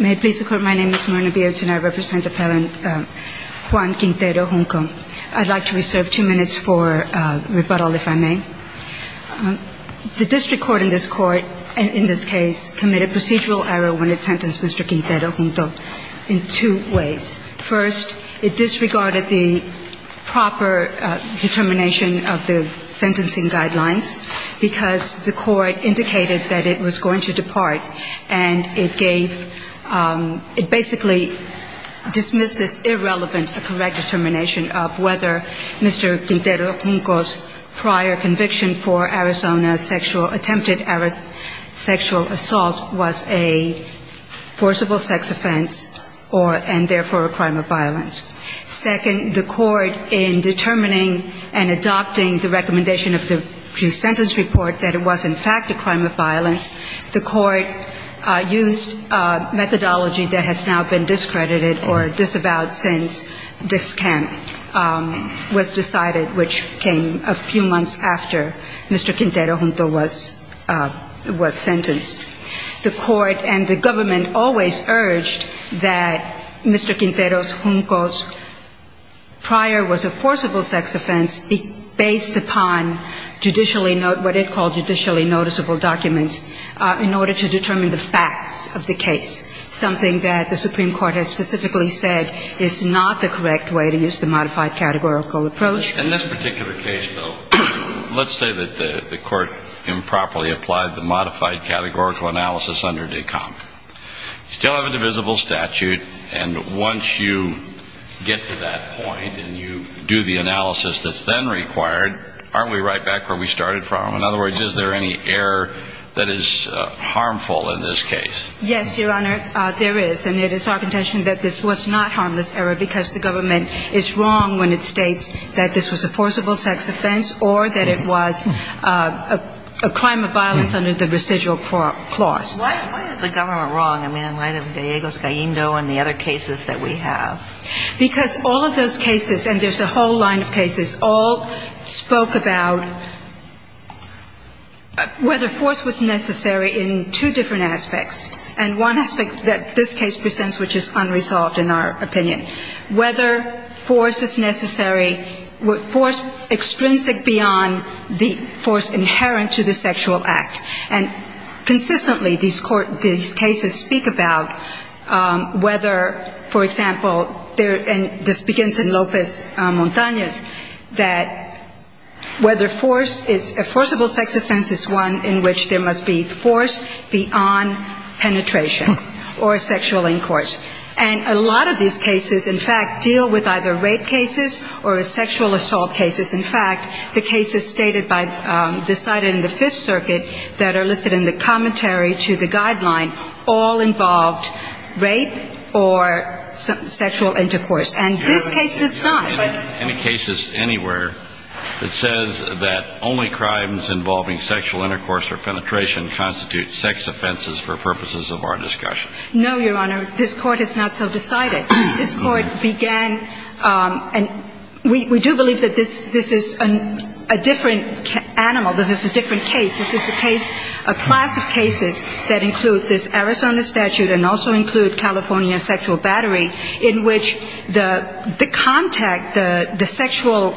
May it please the Court, my name is Myrna Beards and I represent Appellant Juan Quintero-Junco. I'd like to reserve two minutes for rebuttal if I may. The District Court in this case committed procedural error when it sentenced Mr. Quintero-Junco in two ways. First, it disregarded the proper determination of the sentencing guidelines because the court indicated that it was going to depart and it gave, it basically dismissed this irrelevant correct determination of whether Mr. Quintero-Junco's prior conviction for Arizona's attempted sexual assault was a forcible sex offense and therefore a crime of violence. Second, the court in determining and adopting the recommendation of the correct used methodology that has now been discredited or disavowed since this camp was decided, which came a few months after Mr. Quintero-Junco was sentenced. The court and the government always urged that Mr. Quintero-Junco's prior was a forcible sex offense based upon what it called judicially noticeable documents in order to determine the facts of the case, something that the Supreme Court has specifically said is not the correct way to use the modified categorical approach. In this particular case, though, let's say that the court improperly applied the modified categorical analysis under DECOMP. You still have a divisible statute and once you get to that point and you do the analysis that's then required, aren't we right back where we started from? In other words, is there any error that is harmful in this case? Yes, Your Honor, there is. And it is our contention that this was not harmless error because the government is wrong when it states that this was a forcible sex offense or that it was a crime of violence under the residual clause. Why is the government wrong? I mean, right in Diego's caindo and the other cases that we have. Because all of those cases, and there's a whole line of cases, all spoke about whether force was necessary in two different aspects. And one aspect that this case presents which is unresolved in our opinion. Whether force is necessary, force extrinsic beyond the force inherent to the sexual act. And consistently these cases speak about whether, for example, and this begins in Lopez Montanez, that whether force is a forcible sex offense is one in which there must be force beyond penetration or sexual incourse. And a lot of these cases, in fact, deal with either rape cases or sexual assault cases. In fact, the cases stated by, decided in the Fifth Circuit that are listed in the commentary to the guideline all involved rape or sexual intercourse. And this case does not. Any cases anywhere that says that only crimes involving sexual intercourse or penetration constitute sex offenses for purposes of our discussion? No, Your Honor. This Court has not so decided. This Court began, and we do believe that this is a different animal, this is a different case. This is a case, a class of cases that include this Arizona statute and also include California sexual battery, in which the contact, the sexual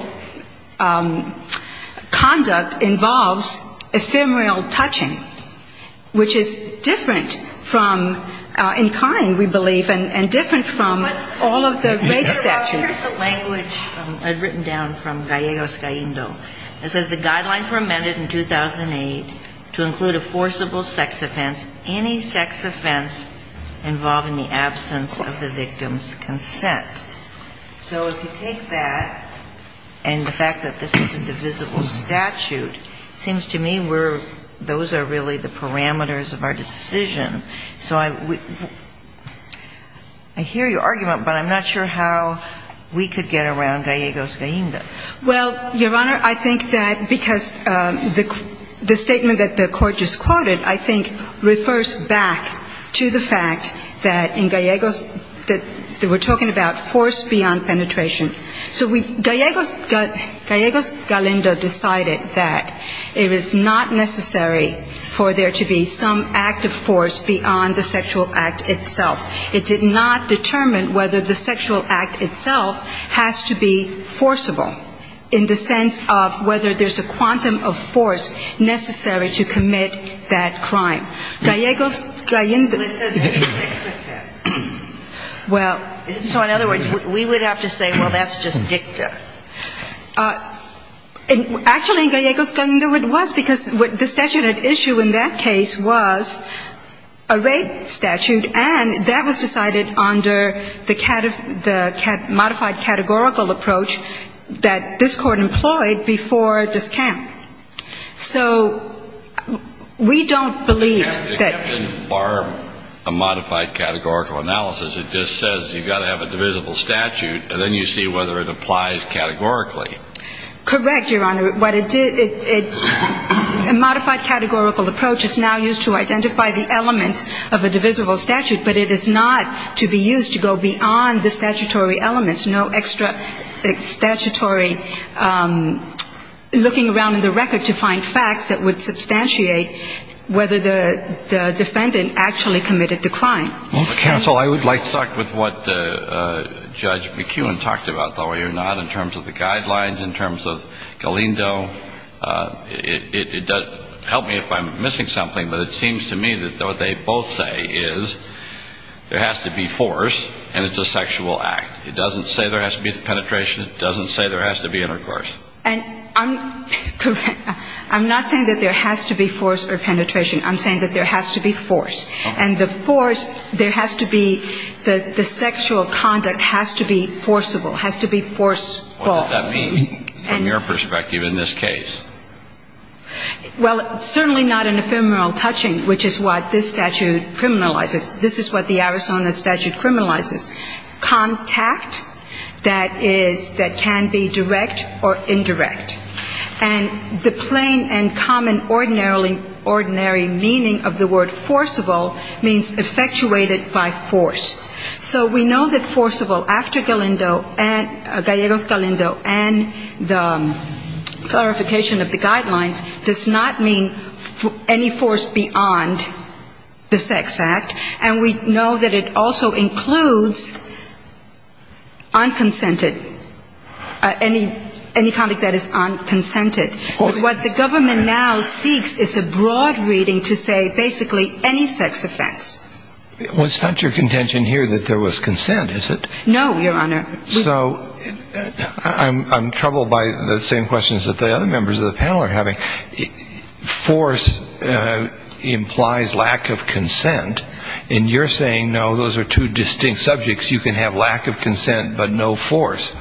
conduct involves ephemeral touching, which is different from, in kind we believe, and different from sexual intercourse. All of the rape statutes. Here's the language I'd written down from Gallegos Gaindo. It says the guidelines were amended in 2008 to include a forcible sex offense, any sex offense involving the absence of the victim's consent. So if you take that and the fact that this is a divisible statute, it seems to me we're, those are really the parameters of our decision. So I hear your argument, but I'm not sure how we could get around Gallegos Gaindo. Well, Your Honor, I think that because the statement that the Court just quoted, I think refers back to the fact that in Gallegos that we're talking about force beyond penetration. So Gallegos Galindo decided that it is not necessary for there to be some act of force beyond penetration. It did not determine whether the sexual act itself has to be forcible in the sense of whether there's a quantum of force necessary to commit that crime. Gallegos Gaindo. Well, so in other words, we would have to say, well, that's just dicta. Actually, in Gallegos Gaindo it was, because the statute at issue in that case was, a rape statute, and that was decided under the modified categorical approach that this Court employed before this camp. So we don't believe that. Except in bar a modified categorical analysis, it just says you've got to have a divisible statute, and then you see whether it applies categorically. Correct, Your Honor. A modified categorical approach is now used to identify the elements of a divisible statute, but it is not to be used to go beyond the statutory elements. No extra statutory looking around in the record to find facts that would substantiate whether the defendant actually committed the crime. Counsel, I would like to talk with what Judge McEwen talked about, though, in terms of the guidelines, in terms of Galendo. Help me if I'm missing something, but it seems to me that what they both say is there has to be force, and it's a sexual act. It doesn't say there has to be penetration. It doesn't say there has to be intercourse. And I'm not saying that there has to be force or penetration. I'm saying that there has to be force. And the force, there has to be, the sexual conduct has to be forcible, has to be forceful. What does that mean from your perspective in this case? Well, certainly not an ephemeral touching, which is what this statute criminalizes. This is what the Arizona statute criminalizes, contact that is, that can be direct or indirect. And the plain and common ordinary meaning of the word forcible means effectuated by force. So we know that forcible after Galendo, Gallegos-Galendo, and the clarification of the guidelines, does not mean any force beyond the sex act, and we know that it also includes unconsented, any conduct that is unconsented. But what the government now seeks is a broad reading to say basically any sex offense. Well, it's not your contention here that there was consent, is it? No, Your Honor. So I'm troubled by the same questions that the other members of the panel are having. Force implies lack of consent, and you're saying, no, those are two distinct subjects. You can have lack of consent, but no force.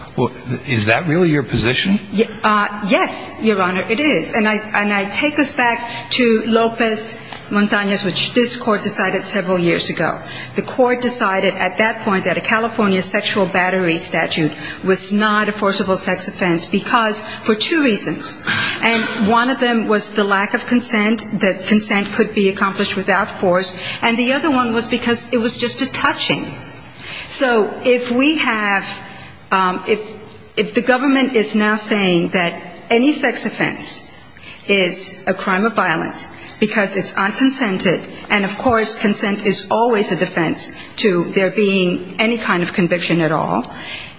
Is that really your position? Yes, Your Honor, it is. And I take this back to Lopez Montanez, which this Court decided several years ago. The Court decided at that point that a California sexual battery statute was not a forcible sex offense, because for two reasons. And one of them was the lack of consent, that consent could be accomplished without force, and the other one was because it was just a touching. So if we have ‑‑ if the government is now saying that any sex offense is a crime of violence because it's unconsented, and, of course, consent is always a defense to there being any kind of conviction at all,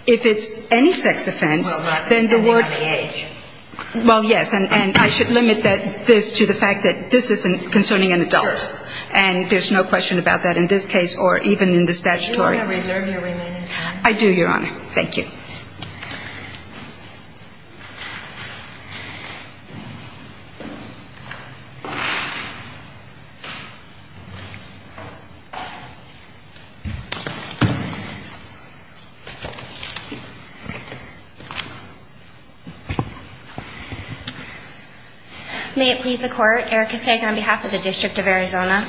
if it's any sex offense, then the word ‑‑ Well, not depending on the age. Well, yes, and I should limit this to the fact that this isn't concerning an adult. Sure. And there's no question about that in this case or even in the statutory. Do you want to reserve your remaining time? I do, Your Honor. Thank you. May it please the Court, Erica Sager on behalf of the District of Arizona.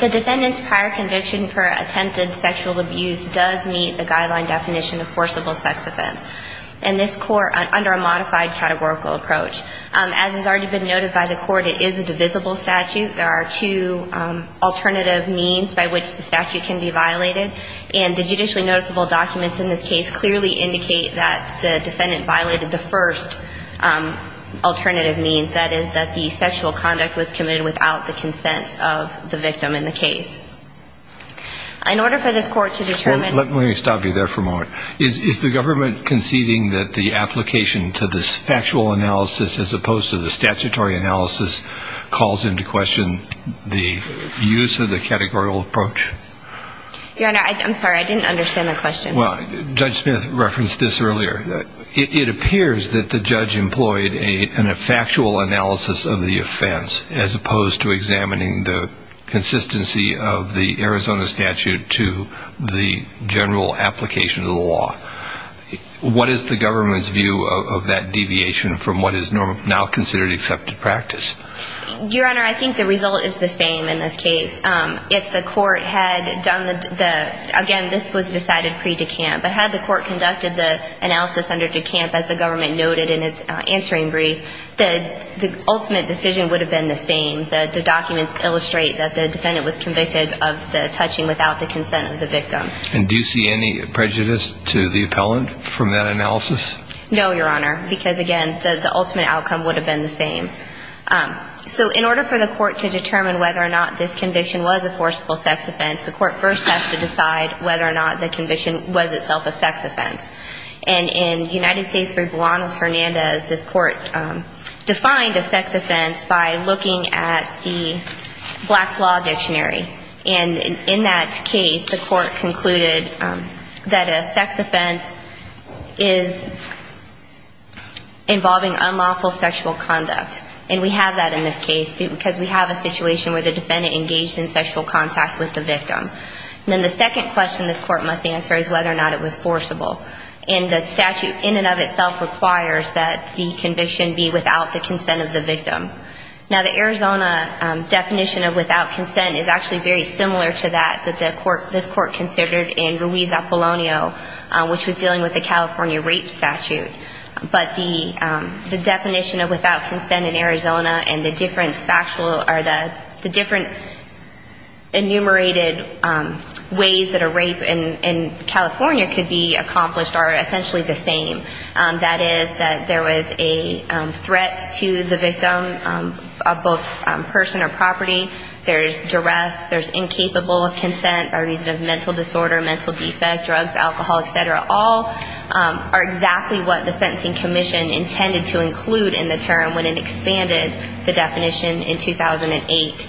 The defendant's prior conviction for attempted sexual abuse does meet the guideline definition of forcible sex offense, and this court, under a modified categorical approach. As has already been noted by the court, it is a divisible statute. There are two alternative means by which the statute can be violated, and the judicially noticeable documents in this case clearly indicate that the defendant violated the first alternative means, that is, that the sexual conduct was committed without the consent of the victim in the case. In order for this court to determine ‑‑ Let me stop you there for a moment. Is the government conceding that the application to this factual analysis as opposed to the statutory analysis calls into question the use of the categorical approach? Your Honor, I'm sorry. I didn't understand the question. Well, Judge Smith referenced this earlier. It appears that the judge employed a factual analysis of the offense as opposed to examining the consistency of the Arizona statute to the general application of the law. What is the government's view of that deviation from what is now considered accepted practice? Your Honor, I think the result is the same in this case. If the court had done the ‑‑ again, this was decided pre‑Dekamp, but had the court conducted the analysis under Dekamp, as the government noted in its answering brief, the ultimate decision would have been the same. The documents illustrate that the defendant was convicted of the touching without the consent of the victim. And do you see any prejudice to the appellant from that analysis? No, Your Honor, because, again, the ultimate outcome would have been the same. So in order for the court to determine whether or not this conviction was a forcible sex offense, the court first has to decide whether or not the conviction was itself a sex offense. And in United States v. Buanos Hernandez, this court defined a sex offense by looking at the Black's Law Dictionary. And in that case, the court concluded that a sex offense is involving unlawful sexual conduct. And we have that in this case because we have a situation where the defendant engaged in sexual contact with the victim. And then the second question this court must answer is whether or not it was forcible. And the statute in and of itself requires that the conviction be without the consent of the victim. Now, the Arizona definition of without consent is actually very similar to that that the court ‑‑ this court considered in Ruiz Apollonio, which was dealing with the California Rape Statute. But the definition of without consent in Arizona and the different factual ‑‑ or the different enumerated ways that a rape in California could be accomplished are essentially the same. That is that there was a threat to the victim of both person or property. There's duress. There's incapable of consent by reason of mental disorder, mental defect, drugs, alcohol, et cetera. All are exactly what the sentencing commission intended to include in the term when it expanded the definition in 2008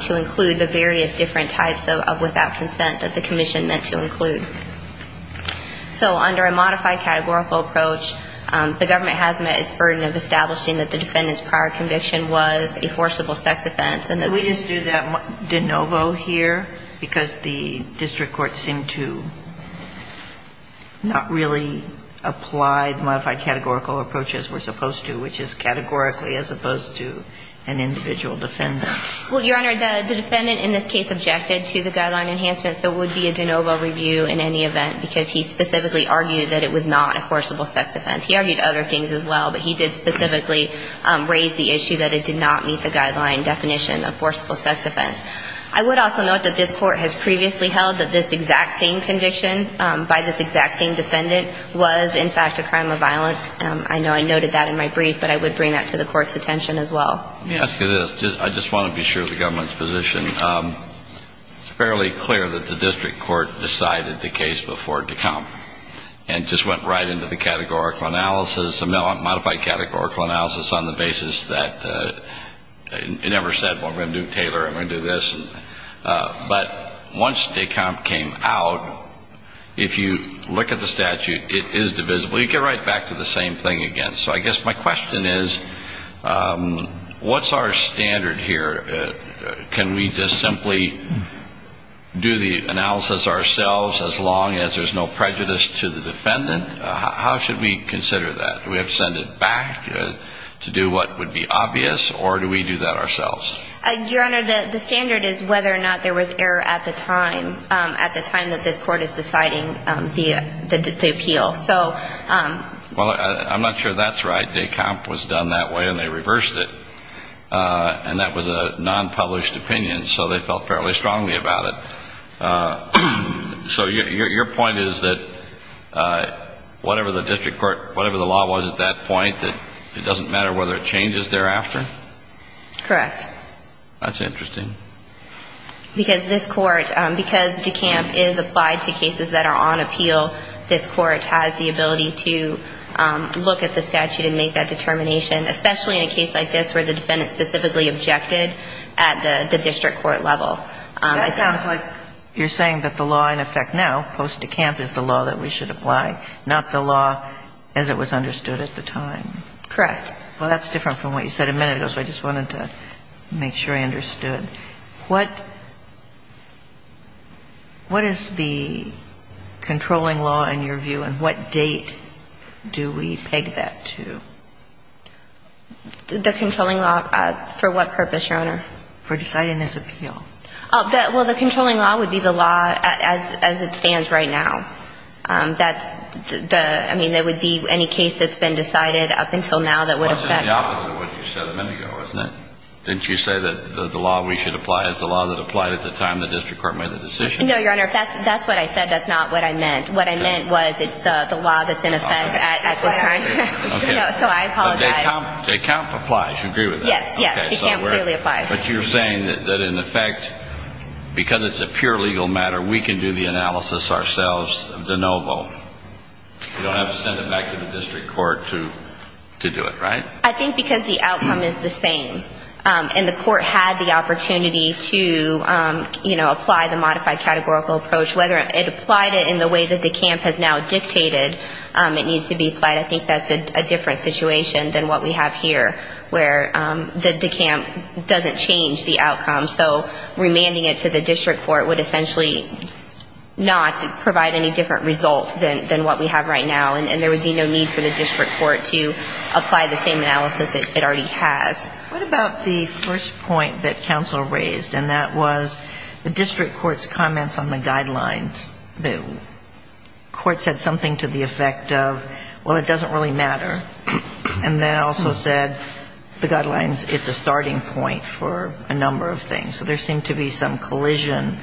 to include the various different types of without consent that the commission meant to include. So under a modified categorical approach, the government has met its burden of establishing that the defendant's prior conviction was a forcible sex offense. Can we just do that de novo here? Because the district courts seem to not really apply the modified categorical approach as we're supposed to, which is categorically as opposed to an individual defendant. Well, Your Honor, the defendant in this case objected to the guideline enhancement, so it would be a de novo review in any event, because he specifically argued that it was not a forcible sex offense. He argued other things as well, but he did specifically raise the issue that it did not meet the guideline definition. I would also note that this court has previously held that this exact same conviction by this exact same defendant was, in fact, a crime of violence. I know I noted that in my brief, but I would bring that to the court's attention as well. Let me ask you this. I just want to be sure of the government's position. It's fairly clear that the district court decided the case before it had come and just went right into the categorical analysis, the modified categorical analysis, on the basis that it never said, well, I'm going to do Taylor, I'm going to do this. But once Descamp came out, if you look at the statute, it is divisible. You get right back to the same thing again. So I guess my question is, what's our standard here? Can we just simply do the analysis ourselves as long as there's no prejudice to the defendant? How should we consider that? Do we have to send it back to do what would be obvious, or do we do that ourselves? Your Honor, the standard is whether or not there was error at the time, at the time that this court is deciding the appeal. Well, I'm not sure that's right. Descamp was done that way, and they reversed it. And that was a non-published opinion, so they felt fairly strongly about it. So your point is that whatever the district court, whatever the law was at that point, that it doesn't matter whether it changes thereafter? Correct. That's interesting. Because this court, because Descamp is applied to cases that are on appeal, this court has the ability to look at the statute and make that determination, especially in a case like this where the defendant specifically objected at the district court level. That sounds like you're saying that the law in effect now, post Descamp, is the law that we should apply, not the law as it was understood at the time. Correct. Well, that's different from what you said a minute ago, so I just wanted to make sure I understood. What is the controlling law in your view, and what date do we peg that to? The controlling law for what purpose, Your Honor? For deciding this appeal. Well, the controlling law would be the law as it stands right now. I mean, there would be any case that's been decided up until now that would affect. Well, it's the opposite of what you said a minute ago, isn't it? Didn't you say that the law we should apply is the law that applied at the time the district court made the decision? No, Your Honor. That's what I said. That's not what I meant. What I meant was it's the law that's in effect at this time. Okay. So I apologize. Descamp applies. You agree with that? Yes. Descamp clearly applies. But you're saying that in effect, because it's a pure legal matter, we can do the analysis ourselves of DeNovo. We don't have to send it back to the district court to do it, right? I think because the outcome is the same, and the court had the opportunity to, you know, apply the modified categorical approach. Whether it applied it in the way that Descamp has now dictated it needs to be applied. I think that's a different situation than what we have here where Descamp doesn't change the outcome. So remanding it to the district court would essentially not provide any different results than what we have right now, and there would be no need for the district court to apply the same analysis it already has. What about the first point that counsel raised, and that was the district court's comments on the guidelines? The court said something to the effect of, well, it doesn't really matter, and then also said the guidelines, it's a starting point for a number of things. So there seemed to be some collision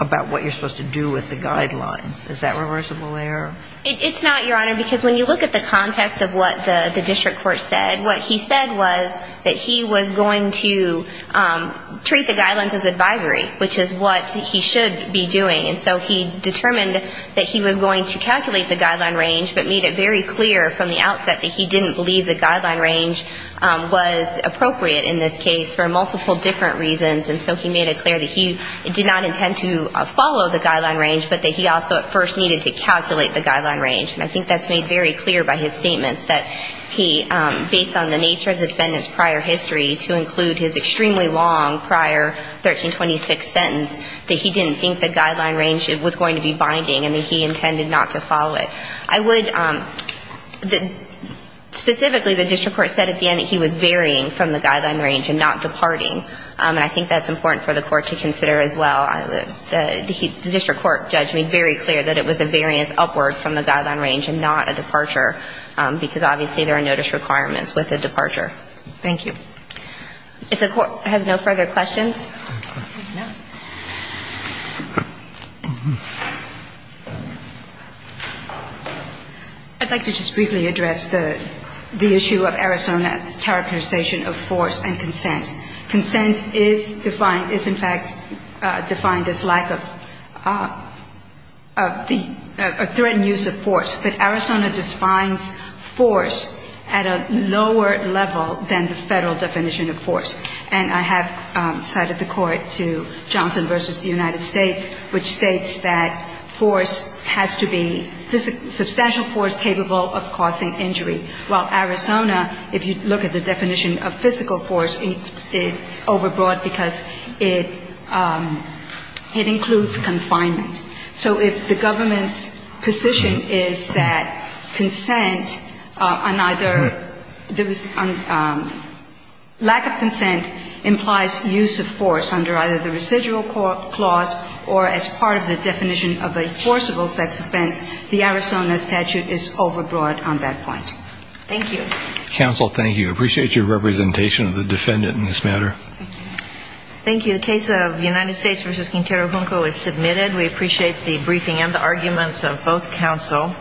about what you're supposed to do with the guidelines. Is that reversible there? It's not, Your Honor, because when you look at the context of what the district court said, what he said was that he was going to treat the guidelines as advisory, which is what he should be doing. And so he determined that he was going to calculate the guideline range, but made it very clear from the outset that he didn't believe the guideline range was appropriate in this case for multiple different reasons. And so he made it clear that he did not intend to follow the guideline range, but that he also at first needed to calculate the guideline range. And I think that's made very clear by his statements that he, based on the nature of the defendant's prior history, to include his extremely long prior 1326 sentence, that he didn't think the guideline range was going to be binding, and that he intended not to follow it. I would, specifically the district court said at the end that he was varying from the guideline range and not departing, and I think that's important for the court to consider as well. The district court judge made very clear that it was a variance upward from the guideline range and not a departure, because obviously there are notice requirements with a departure. Thank you. If the Court has no further questions. I'd like to just briefly address the issue of Arizona's characterization of force and consent. Consent is defined, is in fact defined as lack of the, a threatened use of force. But Arizona defines force at a lower level than the Federal definition of force. And I have cited the court to Johnson v. The United States, which states that force has to be substantial force capable of causing injury. While Arizona, if you look at the definition of physical force, it's overbroad because it includes confinement. So if the government's position is that consent on either, lack of consent implies use of force under either the residual clause or as part of the definition of a forcible sex offense, the Arizona statute is overbroad on that point. Thank you. Counsel, thank you. I appreciate your representation of the defendant in this matter. Thank you. The case of United States v. Quintero Junco is submitted. We appreciate the briefing and the arguments of both counsel.